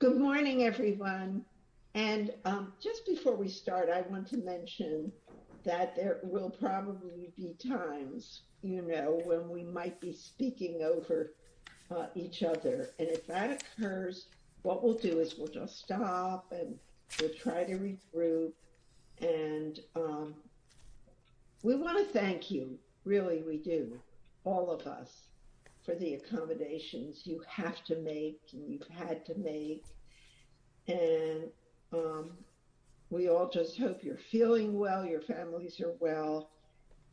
Good morning, everyone. And just before we start, I want to mention that there will probably be times, you know, when we might be speaking over each other. And if that occurs, what we'll do is we'll just stop and try to regroup. And we want to thank you, really, we do all of us for the accommodations you have to make and you've had to make. And we all just hope you're feeling well, your families are well.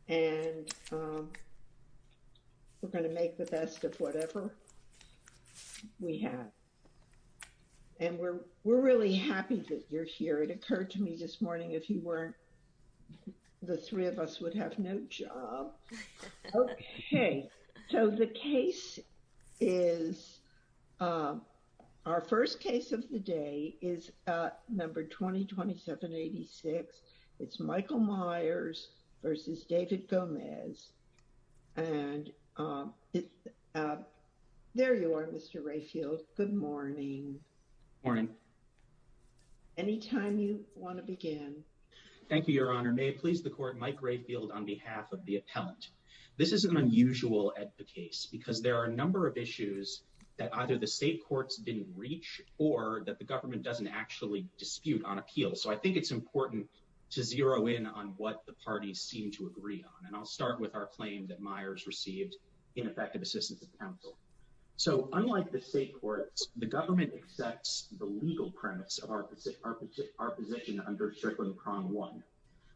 And we're going to make the best of whatever we have. And we're, we're really happy that you're here. It occurred to me this morning, if you weren't, the three of us would have no job. Okay, so the case is our first case of the day is number 20 2786. It's Michael Myers versus David Gomez. And there you are, Mr. Rayfield. Good morning. Morning. Anytime you want to begin. Thank you, Your Honor may please the court Mike Rayfield on behalf of the appellant. This is an unusual case because there are a number of issues that either the state courts didn't reach or that the government doesn't actually dispute on appeal. So I think it's important to zero in on what the parties seem to agree on. And I'll start with our claim that Myers received ineffective assistance of counsel. So unlike the state courts, the government accepts the legal premise of our position, our position under Strickland prong one,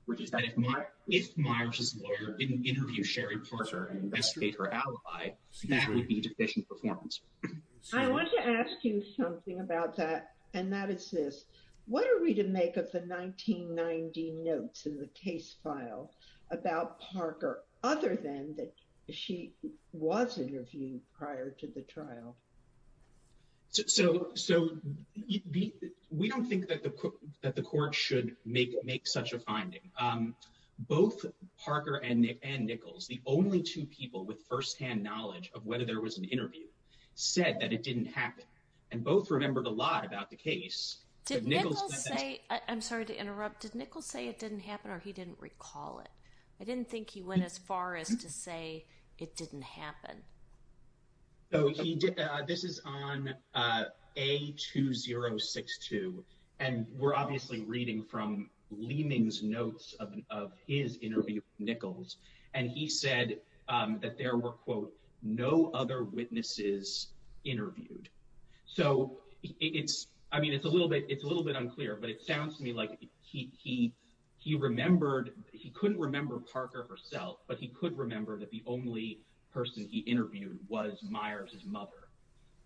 which is that if my if Myers didn't interview Sherry Porter and investigate her alibi, that would be deficient performance. I want to ask you something about that. And that is this, what are we to make of the 1990 notes in the case file about Parker? Other than that, she was interviewed prior to the trial. So so we don't think that the court that the court should make make such a finding. Both Parker and Nick and Nichols, the only two people with firsthand knowledge of whether there was an interview said that it didn't happen. And both remembered a lot about the case. Did Nichols say, I'm sorry to interrupt, did Nichols say it didn't happen or he didn't recall it? I didn't think he went as far as to say it didn't happen. So he did. This is on a 2062. And we're obviously reading from Leeming's notes of his interview Nichols. And he said that there were, quote, no other witnesses interviewed. So it's I mean, it's a little bit it's a little bit unclear, but it sounds to me like he he remembered he couldn't remember Parker herself, but he could remember that the only person he interviewed was Myers's mother,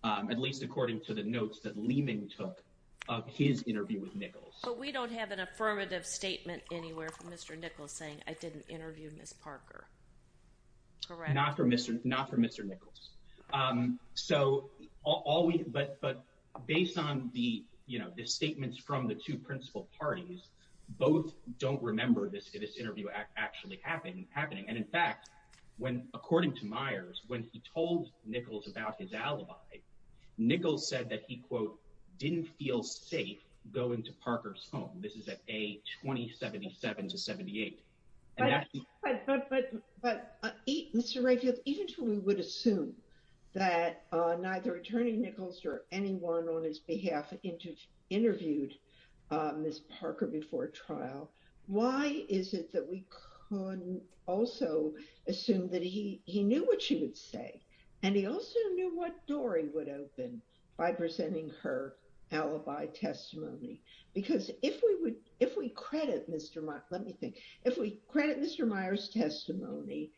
at least according to the notes that Leeming took of his interview with Nichols. But we don't have an affirmative statement anywhere from Mr. Nichols saying I didn't interview Ms. Parker. Not for Mr. Nichols. So all we but based on the, you know, the statements from the two principal parties, both don't remember this interview actually happening. And in fact, when according to Myers, when he told Nichols about his alibi, Nichols said that he, quote, didn't feel safe going to Parker's home. This is at a 2077 to 78. But Mr. Rayfield, even to we would assume that neither attorney Nichols or anyone on his behalf interviewed Ms. Parker before trial. Why is it that we couldn't also assume that he he knew what she would say? And he also knew what door he would open by presenting her alibi testimony. Because if we would if we credit Mr. Let me think. If we credit Mr. Myers testimony,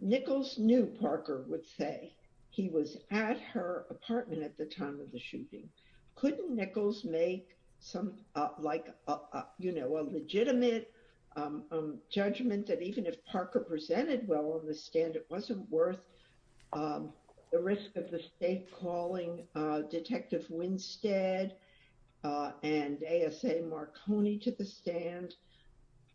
Nichols knew Parker would say he was at her apartment at the time of the shooting. Couldn't Nichols make some like, you know, a risk of the state calling Detective Winstead and A.S.A. Marconi to the stand?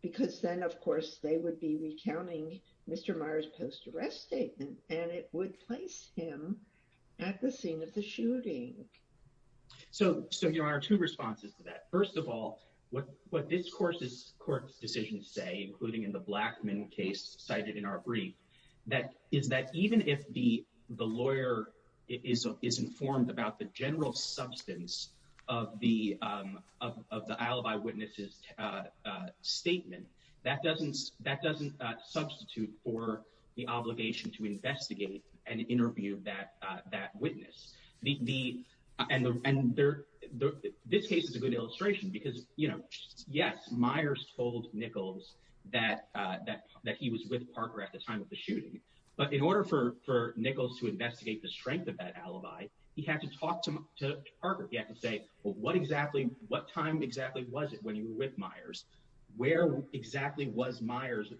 Because then, of course, they would be recounting Mr. Myers post arrest statement and it would place him at the scene of the shooting. So so there are two responses to that. First of all, what what this course is court's say, including in the Blackman case cited in our brief, that is that even if the the lawyer is is informed about the general substance of the of the alibi witnesses statement, that doesn't that doesn't substitute for the obligation to investigate and interview that that witness, the and and this case is a good illustration because, you know, yes, Myers told Nichols that that that he was with Parker at the time of the shooting. But in order for for Nichols to investigate the strength of that alibi, he had to talk to Parker. He had to say, well, what exactly what time exactly was it when you were with Myers? Where exactly was Myers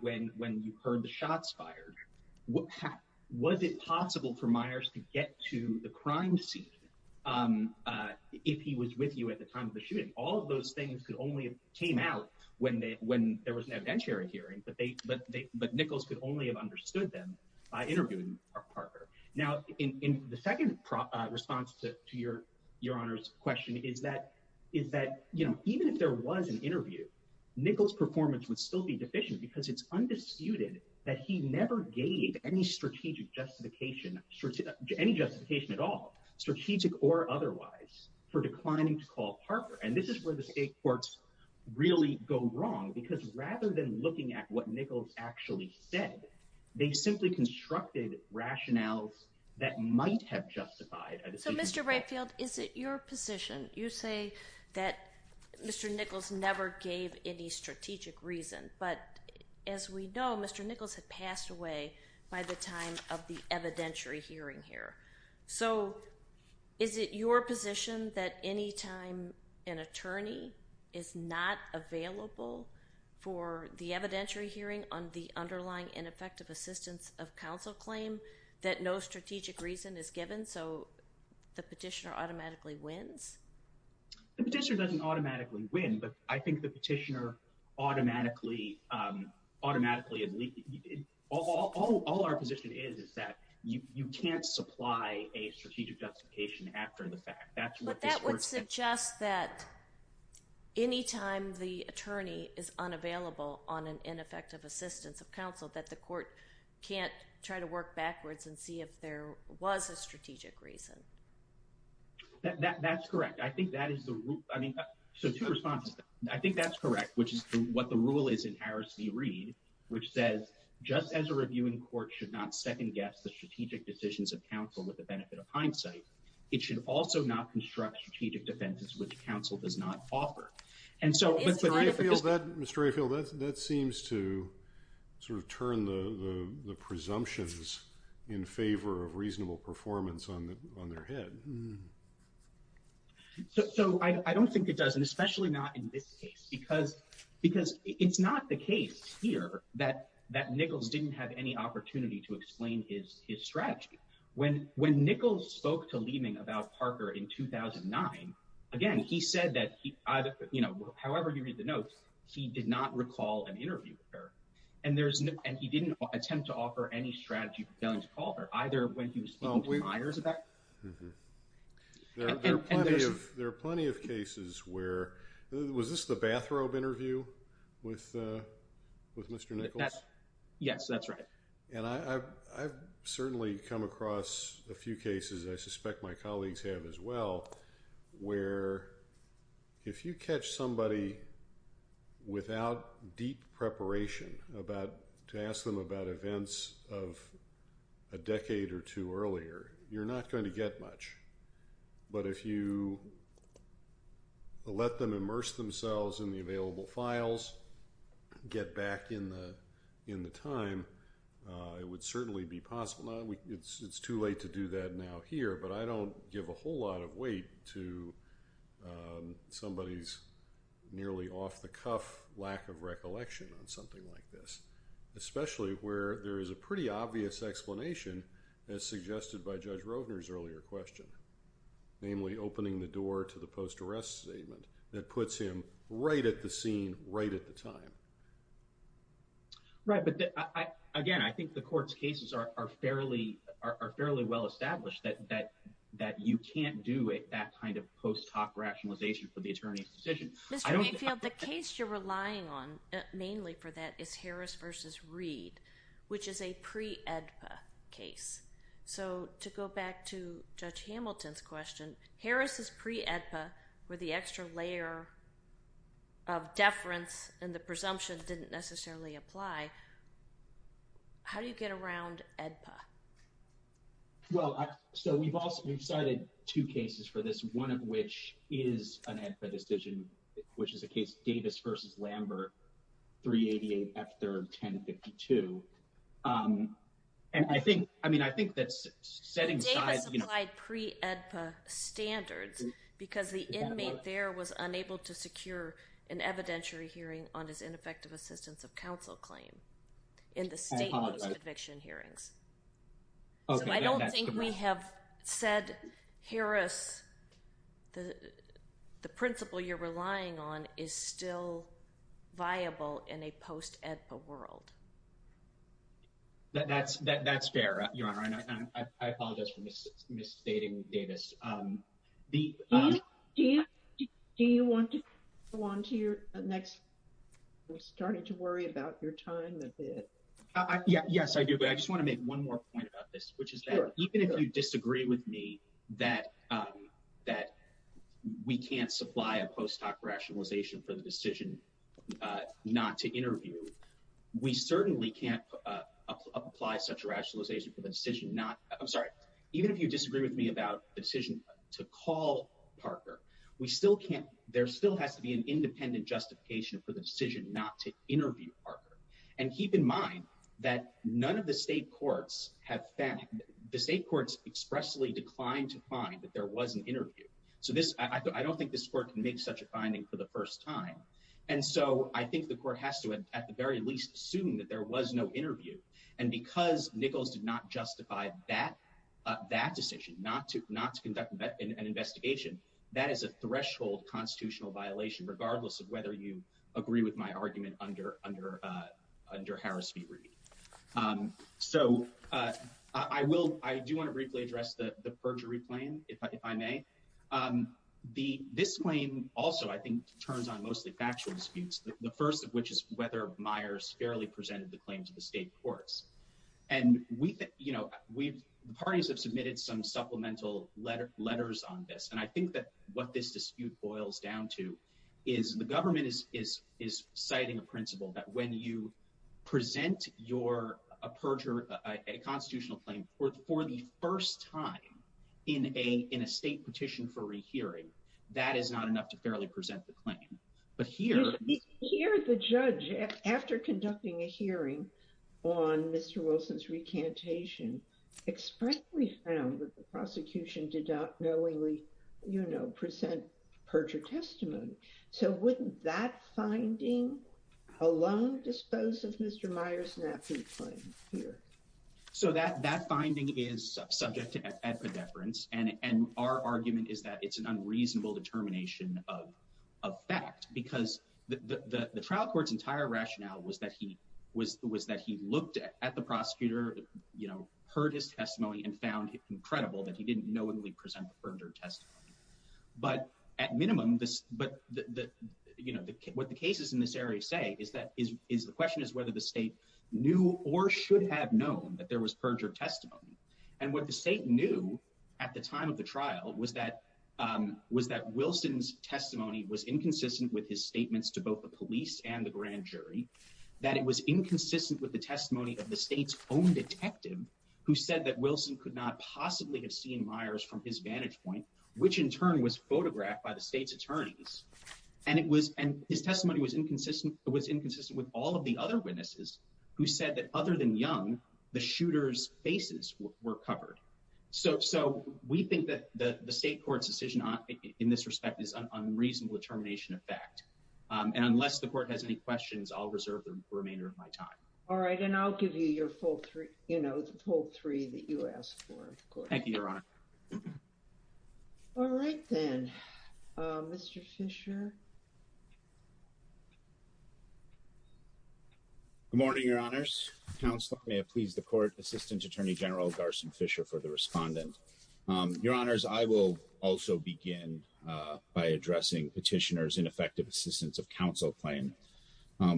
when when you heard the shots fired? What was it possible for Myers to get to the crime scene if he was with you at the time of the shooting? All of those things could only came out when they when there was an evidentiary hearing. But they but but Nichols could only have understood them by interviewing Parker. Now, in the second response to your your honor's question is that is that, you know, even if there was an interview, Nichols performance would still be deficient because it's undisputed that he never gave any strategic justification, any justification at all, strategic or otherwise for declining to call Parker. And this is where the state courts really go wrong, because rather than looking at what Nichols actually said, they simply constructed rationales that might have justified. So, Mr. Rightfield, is it your position you say that Mr. Nichols never gave any strategic reason? But as we know, Mr. Nichols had passed away by the time of the evidentiary hearing here. So is it your position that any time an attorney is not available for the evidentiary hearing on the underlying ineffective assistance of counsel claim that no strategic reason is given, so the petitioner automatically wins? The petitioner doesn't automatically win, but I think the petitioner automatically, automatically, all our position is, is that you can't supply a strategic justification after the fact. That's what that would suggest that anytime the attorney is unavailable on an ineffective assistance of counsel that the was a strategic reason. That's correct. I think that is the, I mean, so two responses. I think that's correct, which is what the rule is in Harris v. Reed, which says just as a reviewing court should not second guess the strategic decisions of counsel with the benefit of hindsight, it should also not construct strategic defenses which counsel does not offer. And so, Mr. Aifield, that seems to sort of turn the presumptions in favor of reasonable performance on their head. So I don't think it does, and especially not in this case, because it's not the case here that Nichols didn't have any opportunity to explain his strategy. When Nichols spoke to Leeming about Parker in 2009, again, he said that, you know, however you read the notes, he did not recall an interview with her, and there's no, and he didn't attempt to offer any strategy for failing to call her, either when he was speaking to Myers about her. There are plenty of, there are plenty of cases where, was this the bathrobe interview with, with Mr. Nichols? Yes, that's right. And I've certainly come across a few cases, I suspect my colleagues have as well, where if you catch somebody without deep preparation about, to ask them about events of a decade or two earlier, you're not going to get much. But if you let them immerse themselves in the available files, get back in the, in the time, it would certainly be possible. Now, it's too late to do that now here, but I don't give a whole lot of weight to somebody's nearly off-the-cuff lack of recollection on something like this, especially where there is a pretty obvious explanation, as suggested by Judge Hamilton, that puts him right at the scene, right at the time. Right, but again, I think the court's cases are fairly, are fairly well established that, that, that you can't do it, that kind of post hoc rationalization for the attorney's decision. Mr. Mayfield, the case you're relying on mainly for that is Harris versus Reed, which is a pre-AEDPA case. So to go back to Judge Hamilton's question, Harris' pre-AEDPA, where the extra layer of deference and the presumption didn't necessarily apply, how do you get around AEDPA? Well, so we've also, we've cited two cases for this, one of which is an AEDPA decision, which is a case of Davis versus Reed, which is a pre-AEDPA standards, because the inmate there was unable to secure an evidentiary hearing on his ineffective assistance of counsel claim in the state conviction hearings. So I don't think we have said, Harris, the, the principle you're relying on is still viable in a post-AEDPA world. That, that's, that's fair, Your Honor, and I apologize for miss, misstating Davis. Do you, do you want to go on to your next, we're starting to worry about your time a bit? Yes, I do, but I just want to make one more point about this, which is that even if you disagree with me that, that we can't supply a post hoc rationalization for the decision not to interview, we certainly can't apply such a rationalization for the decision not, I'm sorry, even if you disagree with me about the decision to call Parker, we still can't, there still has to be an independent justification for the decision not to interview Parker. And keep in mind that none of the state courts have found, the state courts expressly declined to find that there was an interview. So this, I don't think this court can make such a finding for the first time. And so I think the court has to, at the very least, assume that there was no interview. And because Nichols did not justify that, that decision, not to, not to conduct an investigation, that is a threshold constitutional violation, regardless of whether you agree with my argument under, under, under Harris v. Reed. So I will, I do want to briefly address the perjury claim, if I may. The, this claim also, I think, turns on mostly factual disputes, the first of which is whether Myers fairly presented the claims of the state courts. And we, you know, we've, the parties have submitted some supplemental letter, letters on this. And I think that what this dispute boils down to is the government is, is, is citing a principle that when you present your, a perjury, a constitutional claim for the first time in a, in a state petition for rehearing, that is not enough to fairly present the claim. But here, here, the judge, after conducting a hearing on Mr. Wilson's recantation, expressly found that the prosecution did not knowingly, you know, present perjury testimony. So wouldn't that finding alone dispose of Mr. Myers' nappy claim here? So that, that finding is subject to epidepherence. And, and our argument is that it's an unreasonable determination of, of fact, because the, the, the trial court's entire rationale was that he was, was that he looked at the prosecutor, you know, heard his testimony and found it incredible that he didn't knowingly present perjury testimony. But at minimum, this, but the, the, you know, the, what the cases in this area say is that is, is the question is whether the state knew or should have known that there was perjury testimony. And what the state knew at the time of the trial was that, was that Wilson's testimony was inconsistent with his statements to both the police and the grand jury, that it was inconsistent with the testimony of the state's own detective who said that Wilson could not possibly have seen from his vantage point, which in turn was photographed by the state's attorneys. And it was, and his testimony was inconsistent, it was inconsistent with all of the other witnesses who said that other than Young, the shooter's faces were covered. So, so we think that the state court's decision in this respect is an unreasonable determination of fact. And unless the court has any questions, I'll reserve the remainder of my time. All right. And I'll give you your full three, you know, the full three that you asked for. Thank you, Your Honor. All right then, Mr. Fisher. Good morning, Your Honors. Counsel, may I please the court, Assistant Attorney General, Garson Fisher for the respondent. Your Honors, I will also begin by addressing petitioners ineffective assistance of counsel claim,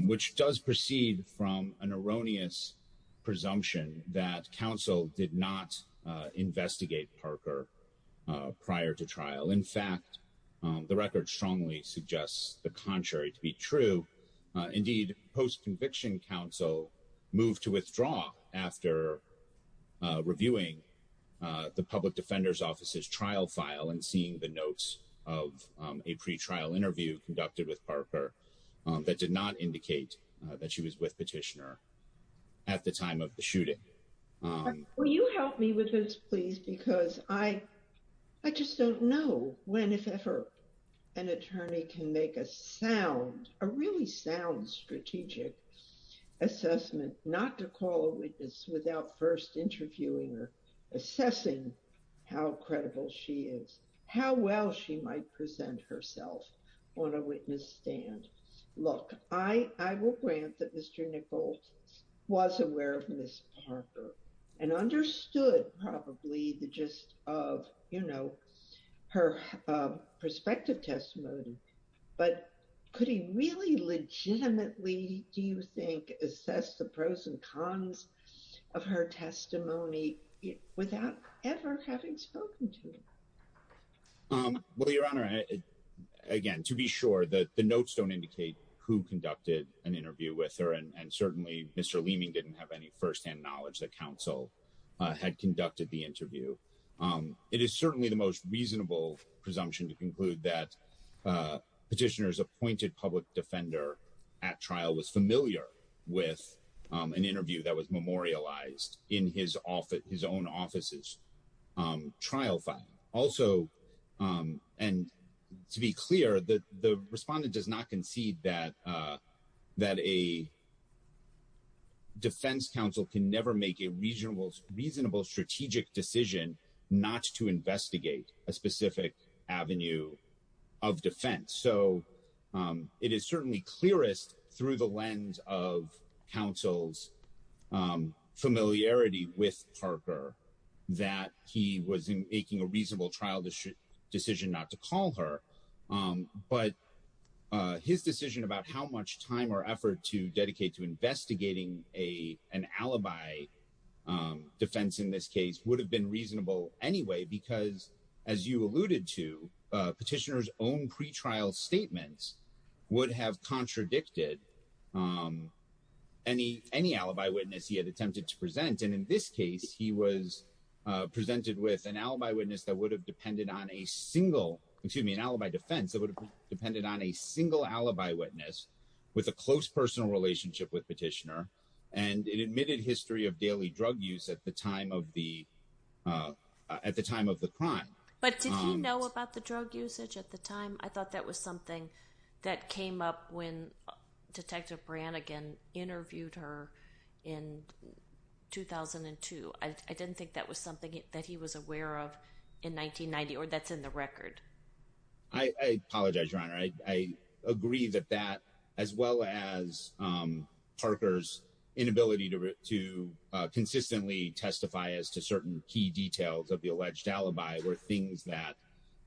which does proceed from an erroneous presumption that counsel did not investigate Parker prior to trial. In fact, the record strongly suggests the contrary to be true. Indeed, post conviction counsel moved to withdraw after reviewing the public defender's offices trial file and seeing the notes of a pre-trial interview conducted with Parker that did not indicate that she was with petitioner at the time of the Will you help me with this, please? Because I, I just don't know when, if ever an attorney can make a sound, a really sound strategic assessment, not to call a witness without first interviewing or assessing how credible she is, how well she might present herself on a witness stand. Look, I will grant that Mr. Nichols was aware of Ms. Parker and understood probably the gist of, you know, her perspective testimony, but could he really legitimately, do you think, assess the pros and cons of her testimony without ever having spoken to him? Um, well, your honor, again, to be sure that the notes don't indicate who conducted an interview with her. And certainly Mr. Leeming didn't have any firsthand knowledge that counsel had conducted the interview. Um, it is certainly the most reasonable presumption to conclude that, uh, petitioners appointed public defender at trial was familiar with, um, an interview that memorialized in his office, his own offices, um, trial file also. Um, and to be clear that the respondent does not concede that, uh, that a defense counsel can never make a reasonable, reasonable strategic decision not to investigate a specific avenue of defense. So, um, it is familiarity with Parker that he was making a reasonable trial decision not to call her. Um, but, uh, his decision about how much time or effort to dedicate to investigating a, an alibi, um, defense in this case would have been reasonable anyway, because as you alluded to, uh, petitioners own pretrial statements would have contradicted, um, any, any alibi witness he had attempted to present. And in this case, he was, uh, presented with an alibi witness that would have depended on a single, excuse me, an alibi defense that would have depended on a single alibi witness with a close personal relationship with petitioner. And it admitted history of daily drug use at the time of the, uh, at the time of the crime. But did he know about the drug usage at the time? I thought that was something that came up when detective Brannigan interviewed her in 2002. I didn't think that was something that he was aware of in 1990, or that's in the record. I apologize, your honor. I agree that that as well as, um, Parker's inability to, to, uh, consistently testify as to certain key details of the alleged alibi were things that,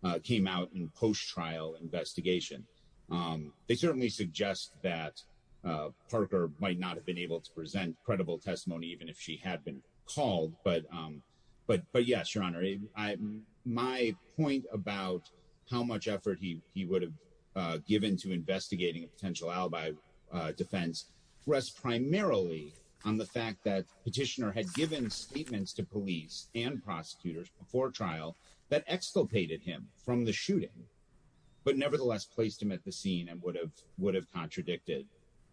uh, came out in post-trial investigation. Um, they certainly suggest that, uh, Parker might not have been able to present credible testimony, even if she had been called, but, um, but, but yes, your honor, I, my point about how much effort he, he would have, uh, given to investigating a potential alibi, uh, defense rests primarily on the fact that before trial that exculpated him from the shooting, but nevertheless placed him at the scene and would have, would have contradicted,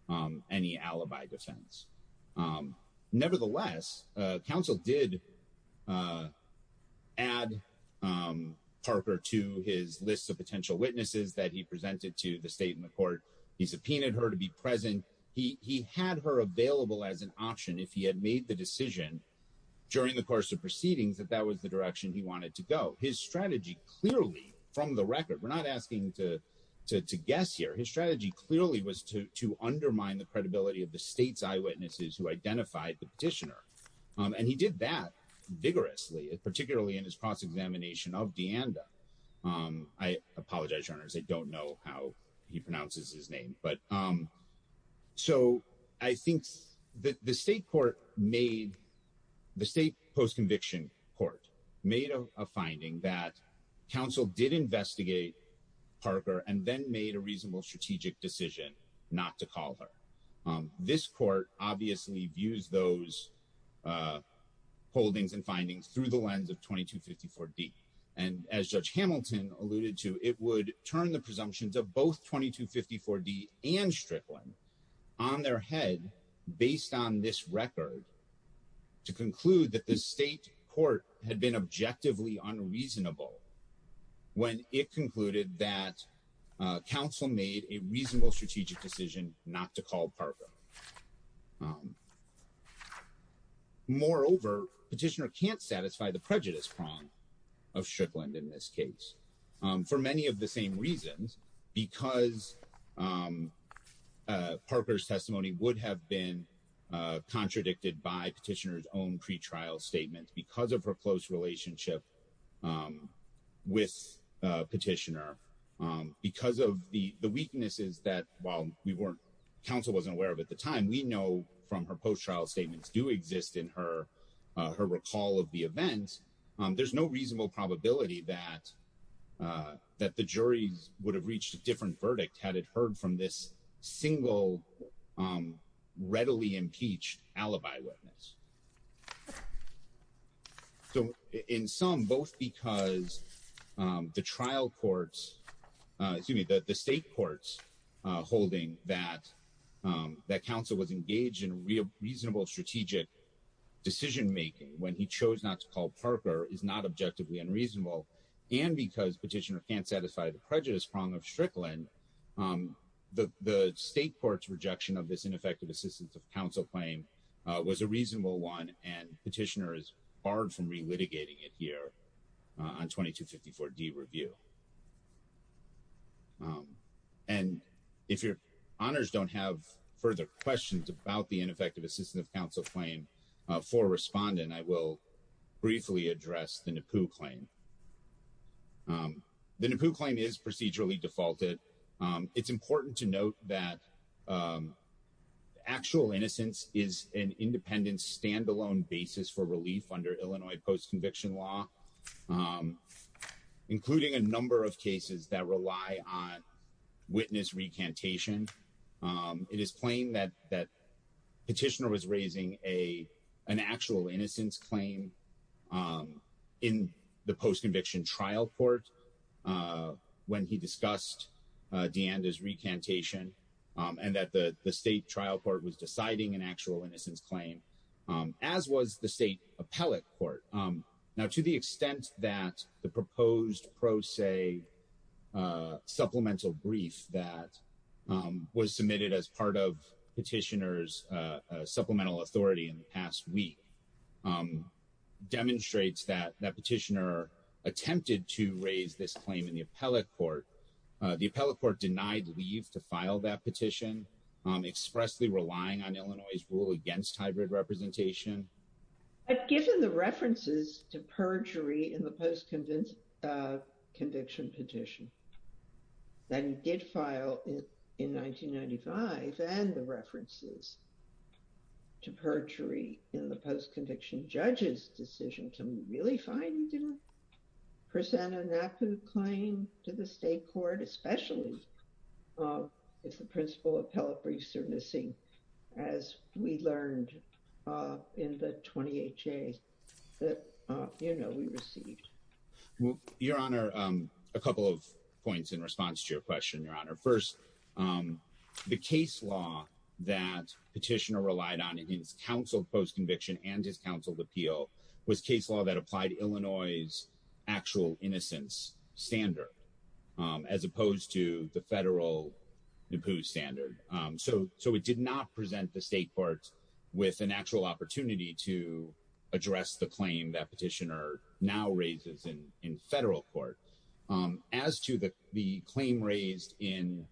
um, any alibi defense. Um, nevertheless, uh, counsel did, uh, add, um, Parker to his list of potential witnesses that he presented to the state and the court. He subpoenaed her to be present. He, he had her available as an option. If he had made the decision during the course of proceedings, that that was the direction he wanted to go. His strategy, clearly from the record, we're not asking to, to, to guess here. His strategy clearly was to, to undermine the credibility of the state's eyewitnesses who identified the petitioner. Um, and he did that vigorously, particularly in his cross-examination of Deanda. Um, I apologize, your honors. I don't know how he pronounces his name, but, um, so I think the state court made the state post-conviction court made a finding that council did investigate Parker and then made a reasonable strategic decision not to call her. Um, this court obviously views those, uh, holdings and findings through the lens of 2254 D. And as judge Hamilton alluded to, it would turn the presumptions of both 2254 D and Strickland on their head based on this record to conclude that the state court had been objectively unreasonable when it concluded that, uh, council made a reasonable strategic decision not to call Parker. Moreover, petitioner can't satisfy the prejudice prong of Strickland in this case, um, for many of the same reasons because, um, uh, Parker's been, uh, contradicted by petitioner's own pretrial statement because of her close relationship, um, with, uh, petitioner, um, because of the weaknesses that while we weren't council wasn't aware of at the time, we know from her post-trial statements do exist in her, uh, her recall of the event. Um, there's no reasonable probability that, uh, that the juries would have reached a different verdict had it heard from this single, um, readily impeached alibi witness. So in some, both because, um, the trial courts, uh, excuse me, the, the state courts, uh, holding that, um, that council was engaged in real reasonable strategic decision-making when he chose not to call Parker is not objectively unreasonable and because petitioner can't the prejudice prong of Strickland, um, the, the state court's rejection of this ineffective assistance of council claim, uh, was a reasonable one and petitioner is barred from re-litigating it here, uh, on 2254D review. Um, and if your honors don't have further questions about the ineffective assistance of council claim, uh, for a respondent, I will briefly address the NAPU claim. Um, the NAPU claim is procedurally defaulted. Um, it's important to note that, um, actual innocence is an independent standalone basis for relief under Illinois post-conviction law, um, including a number of cases that rely on witness recantation. Um, it is plain that, that petitioner was raising a, an actual innocence claim, um, in the post-conviction trial court, uh, when he discussed, uh, Deanda's recantation, um, and that the state trial court was deciding an actual innocence claim, um, as was the state appellate court. Um, now to the extent that the proposed pro se, uh, supplemental brief that, um, was submitted as part of petitioner's, uh, uh, supplemental authority in the past week, um, demonstrates that that petitioner attempted to raise this claim in the appellate court, uh, the appellate court denied leave to file that petition, um, expressly relying on Illinois' rule against hybrid representation. But given the references to perjury in the post-convince, uh, conviction petition that he did file in, in 1995 and the references to perjury in the post-conviction judge's decision, can we really find he didn't present a NAPU claim to the state court, especially, um, if the principal appellate briefs are missing as we learned, uh, in the 20HA that, uh, you know, we received? Well, your honor, um, a couple of points in response to your question, your honor. First, um, the case law that petitioner relied on in his counsel post-conviction and his counsel appeal was case law that applied Illinois' actual innocence standard, um, as opposed to the federal NAPU standard. Um, so, so it did not present the state courts with an actual opportunity to address the claim that petitioner now raises in, in federal court. Um, as to the, the claim raised in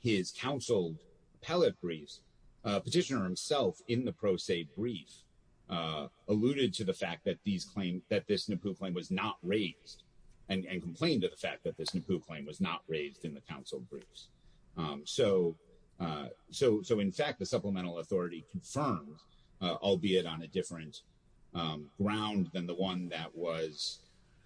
his counseled appellate briefs, uh, petitioner himself in the pro se brief, uh, alluded to the fact that these claims, that this NAPU claim was not raised and, and complained to the fact that this NAPU claim was not raised in the counsel briefs. Um, so, uh, so, so in fact, the supplemental authority confirmed, uh, albeit on a different, um, ground than the one that was,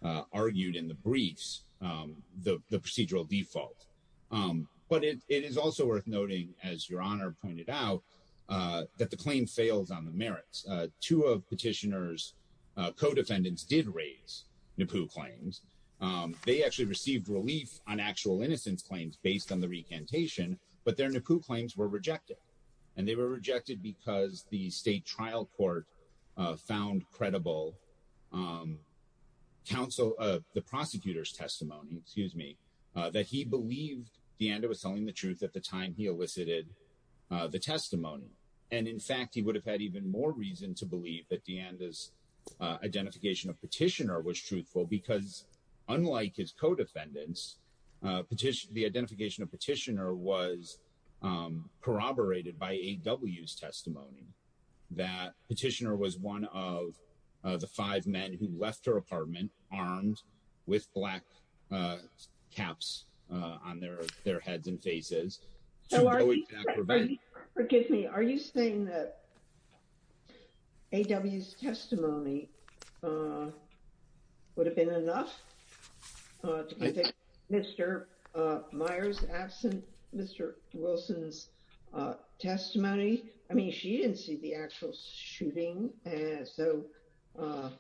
uh, argued in the briefs, um, the, the procedural default. Um, but it, it is also worth noting as your honor pointed out, uh, that the claim fails on the merits, uh, two of petitioners, uh, co-defendants did raise NAPU claims. Um, they actually received relief on actual innocence claims based on the recantation, but their NAPU claims were rejected and they were rejected because the state trial court, uh, found credible, um, counsel, uh, the prosecutor's testimony, excuse me, uh, that he believed DeAnda was telling the truth at the time he elicited, uh, the testimony. And in fact, he identification of petitioner was truthful because unlike his co-defendants, uh, petition, the identification of petitioner was, um, corroborated by AW's testimony that petitioner was one of, uh, the five men who left her apartment armed with black, uh, caps, uh, on their, their heads and So are you saying, forgive me, are you saying that AW's testimony, uh, would have been enough, uh, Mr. Uh, Myers absent Mr. Wilson's, uh, testimony. I mean, she didn't see the actual shooting. And so, uh,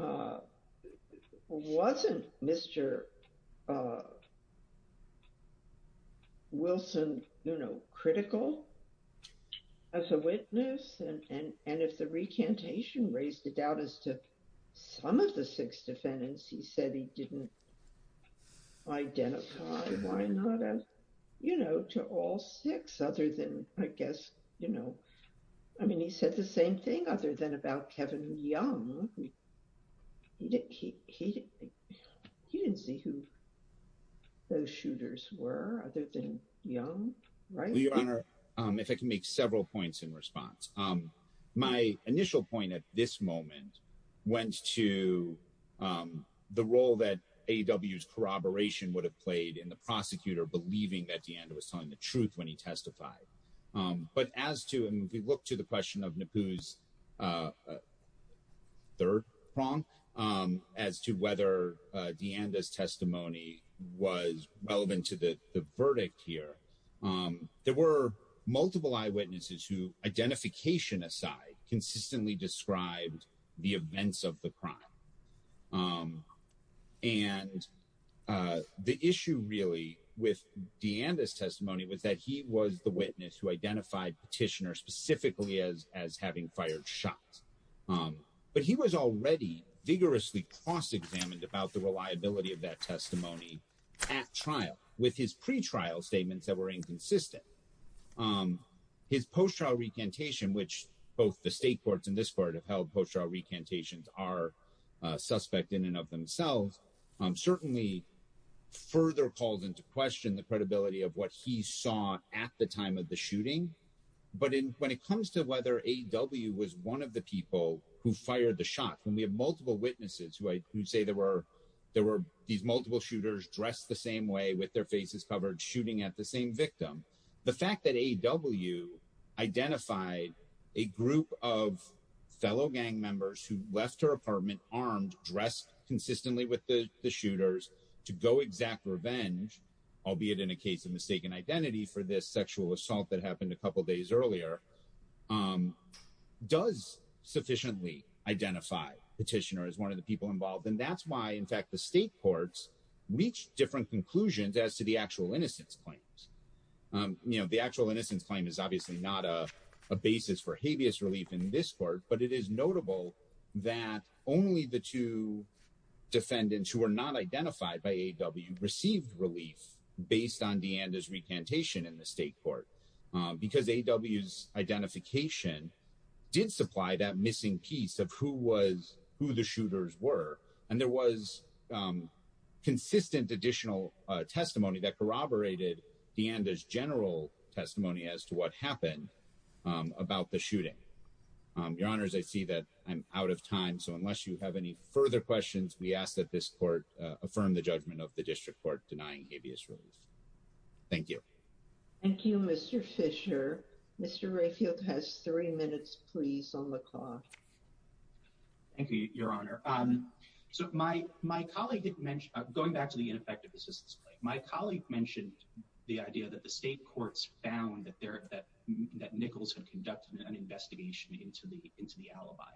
uh, wasn't Mr., uh, Wilson, you know, critical as a witness and, and, and if the recantation raised the doubt as to some of the six defendants, he said he didn't identify why not as, you know, to all six other than, I guess, you know, I mean, he said the same thing other than about Kevin Young. He didn't, he, he, he didn't see who those shooters were other than Young, right? Your Honor, um, if I can make several points in response, um, my initial point at this moment went to, um, the role that AW's corroboration would have played in the prosecutor believing that DeAnda was telling the truth when he testified. Um, but as to, and if you look to the question of NAPU's, uh, uh, third prong, um, as to whether, uh, DeAnda's testimony was relevant to the verdict here, um, there were multiple eyewitnesses who identification aside consistently described the events of the crime. Um, and, uh, the issue really with DeAnda's testimony was that he was the witness who identified petitioner specifically as, as having fired shots. Um, but he was already vigorously cross-examined about the reliability of that testimony at trial with his pretrial statements that were inconsistent. Um, his post-trial recantation, both the state courts and this court have held post-trial recantations are, uh, suspect in and of themselves, um, certainly further calls into question the credibility of what he saw at the time of the shooting. But in, when it comes to whether AW was one of the people who fired the shot, when we have multiple witnesses who I would say there were, there were these multiple shooters dressed the same way with their faces covered shooting at the same victim. The fact that AW identified a group of fellow gang members who left her apartment armed, dressed consistently with the shooters to go exact revenge, albeit in a case of mistaken identity for this sexual assault that happened a couple of days earlier, um, does sufficiently identify petitioner as one of the people involved. And that's why in fact, the state courts reached different conclusions as to the actual innocence claims. Um, you know, the actual innocence claim is obviously not a a basis for habeas relief in this court, but it is notable that only the two defendants who were not identified by AW received relief based on DeAnda's recantation in the state court, because AW's identification did supply that missing piece of who was, who the shooters were. And there was, um, consistent additional testimony that corroborated DeAnda's general testimony as to what happened, um, about the shooting. Um, your honors, I see that I'm out of time. So unless you have any further questions, we ask that this court, uh, affirm the judgment of the district court denying habeas relief. Thank you. Thank you, Mr. Fisher. Mr. Rayfield has three So my, my colleague had mentioned, uh, going back to the ineffective assistance claim, my colleague mentioned the idea that the state courts found that there, that, that Nichols had conducted an investigation into the, into the alibi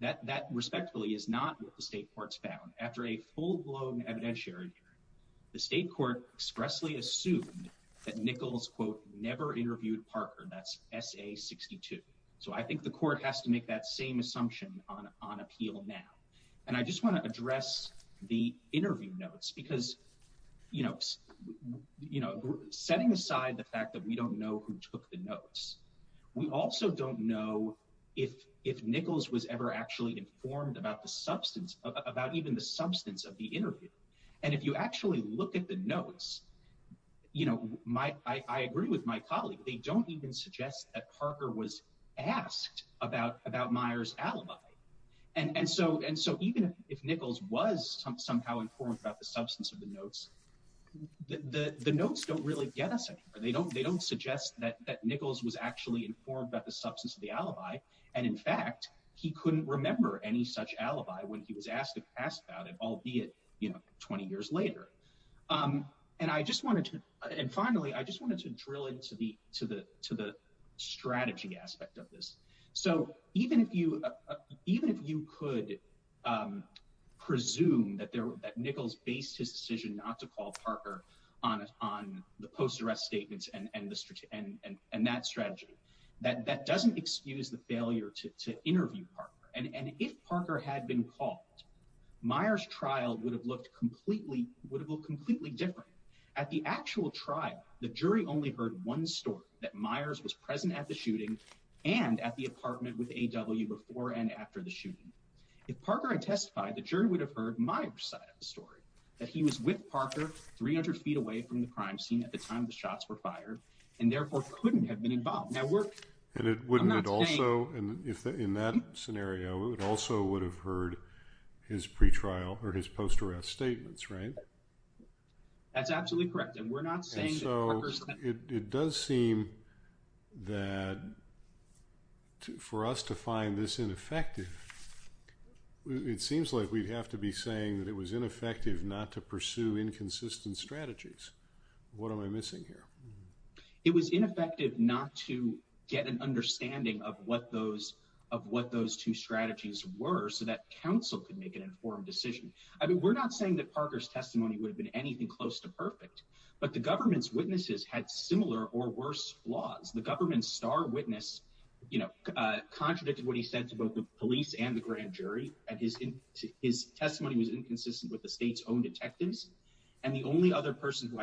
that, that respectfully is not what the state courts found after a full blown evidentiary hearing. The state court expressly assumed that Nichols quote, never interviewed Parker that's SA62. So I think the court has to make that same on, on appeal now. And I just want to address the interview notes because, you know, you know, setting aside the fact that we don't know who took the notes, we also don't know if, if Nichols was ever actually informed about the substance about even the substance of the interview. And if you actually look at the notes, you know, my, I agree with my colleague, they don't even suggest that Parker was asked about, about Meyer's alibi. And, and so, and so even if Nichols was somehow informed about the substance of the notes, the notes don't really get us anywhere. They don't, they don't suggest that, that Nichols was actually informed about the substance of the alibi. And in fact, he couldn't remember any such alibi when he was asked to pass about it, albeit, you know, 20 years later. Um, and I just wanted to, and finally, I just wanted to drill into the, to the, to the strategy aspect of this. So even if you, even if you could, um, presume that there, that Nichols based his decision not to call Parker on, on the post arrest statements and, and the, and, and, and that strategy, that, that doesn't excuse the failure to, to interview Parker. And if Parker had been called, Meyer's trial would have looked completely, would have looked completely different. At the actual trial, the jury only heard one story, that Myers was present at the shooting and at the apartment with A.W. before and after the shooting. If Parker had testified, the jury would have heard Meyer's side of the story, that he was with Parker 300 feet away from the crime scene at the time the shots were fired and therefore couldn't have been involved. Now we're... And it wouldn't have also, and if in that scenario, it also would have heard his pre-trial or his post arrest statements, right? That's absolutely correct. And we're not saying... And so it, it does seem that for us to find this ineffective, it seems like we'd have to be saying that it was ineffective not to pursue inconsistent strategies. What am I missing here? It was ineffective not to get an understanding of what those, of what those two strategies were so that council could make an informed decision. I mean, we're not saying that Parker's testimony would have been anything close to perfect, but the government's witnesses had similar or worse flaws. The government's star witness, you know, contradicted what he said to both the police and the grand jury. And his, his testimony was inconsistent with the state's own detectives. And the only other person who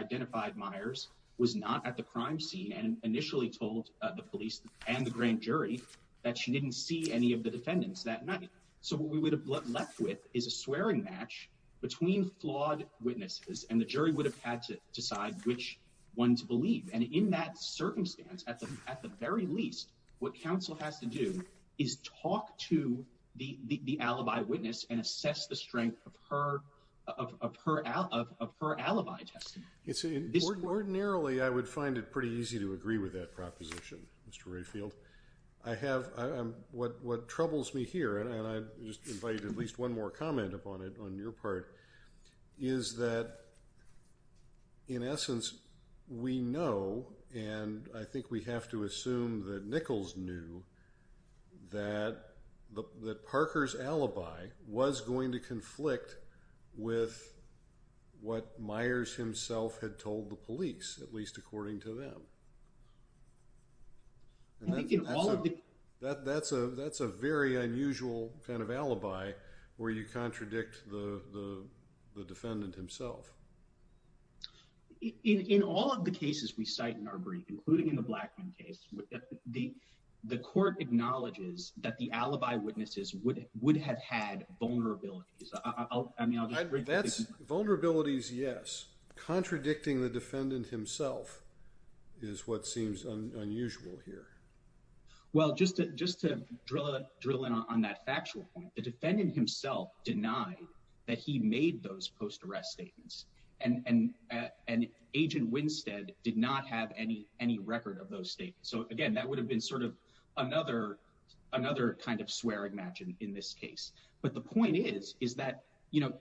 and the grand jury that she didn't see any of the defendants that night. So what we would have left with is a swearing match between flawed witnesses and the jury would have had to decide which one to believe. And in that circumstance, at the, at the very least, what council has to do is talk to the, the, the alibi witness and assess the strength of her, of, of her, of, of her alibi testimony. It's... Ordinarily, I would find it pretty easy to agree with that proposition, Mr. Rayfield. I have, I'm, what, what troubles me here, and I just invited at least one more comment upon it on your part, is that in essence, we know, and I think we have to assume that Nichols knew that the, that Parker's alibi was going to conflict with what Myers himself had told the police, at least according to them. And I think in all of the... That, that's a, that's a very unusual kind of alibi where you contradict the, the defendant himself. In, in all of the cases we cite in our brief, including in the Blackman case, the, the court acknowledges that the alibi witnesses would, would have had vulnerabilities. I mean, I'll just... That's, vulnerabilities, yes. Contradicting the defendant himself is what seems unusual here. Well, just to, just to drill, drill in on that factual point, the defendant himself denied that he made those post-arrest statements. And, and, and Agent Winstead did not have any, any record of those statements. So again, that would have been sort of another, another kind of swearing match in, in this case. But the point is, is that, you know,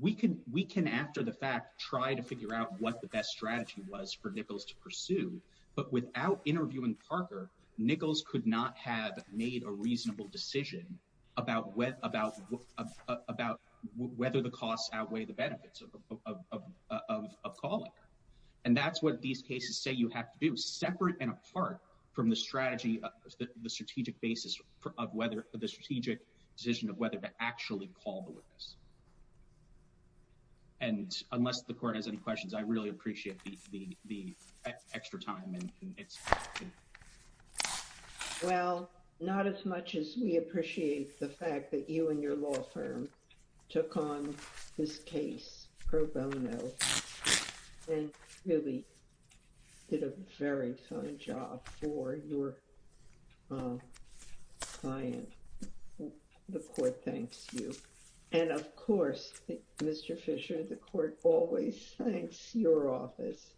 we can, we can, after the fact, try to figure out what the best strategy was for Nichols to pursue. But without interviewing Parker, Nichols could not have made a reasonable decision about whether, about, about whether the costs outweigh the benefits of, of, of, of, of calling. And that's what these cases say you have to do, separate and apart from the strategy of the, the strategic basis of whether, the strategic decision of whether to actually call the witness. And unless the court has any questions, I really appreciate the, the, the extra time and it's... Well, not as much as we appreciate the fact that you and your law firm took on this case pro bono and really did a very fine job for your client. The court thanks you. And of course, Mr. Fisher, the court always thanks your office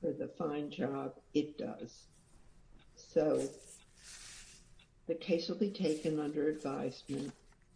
for the fine job it does. So the case will be taken under advisement.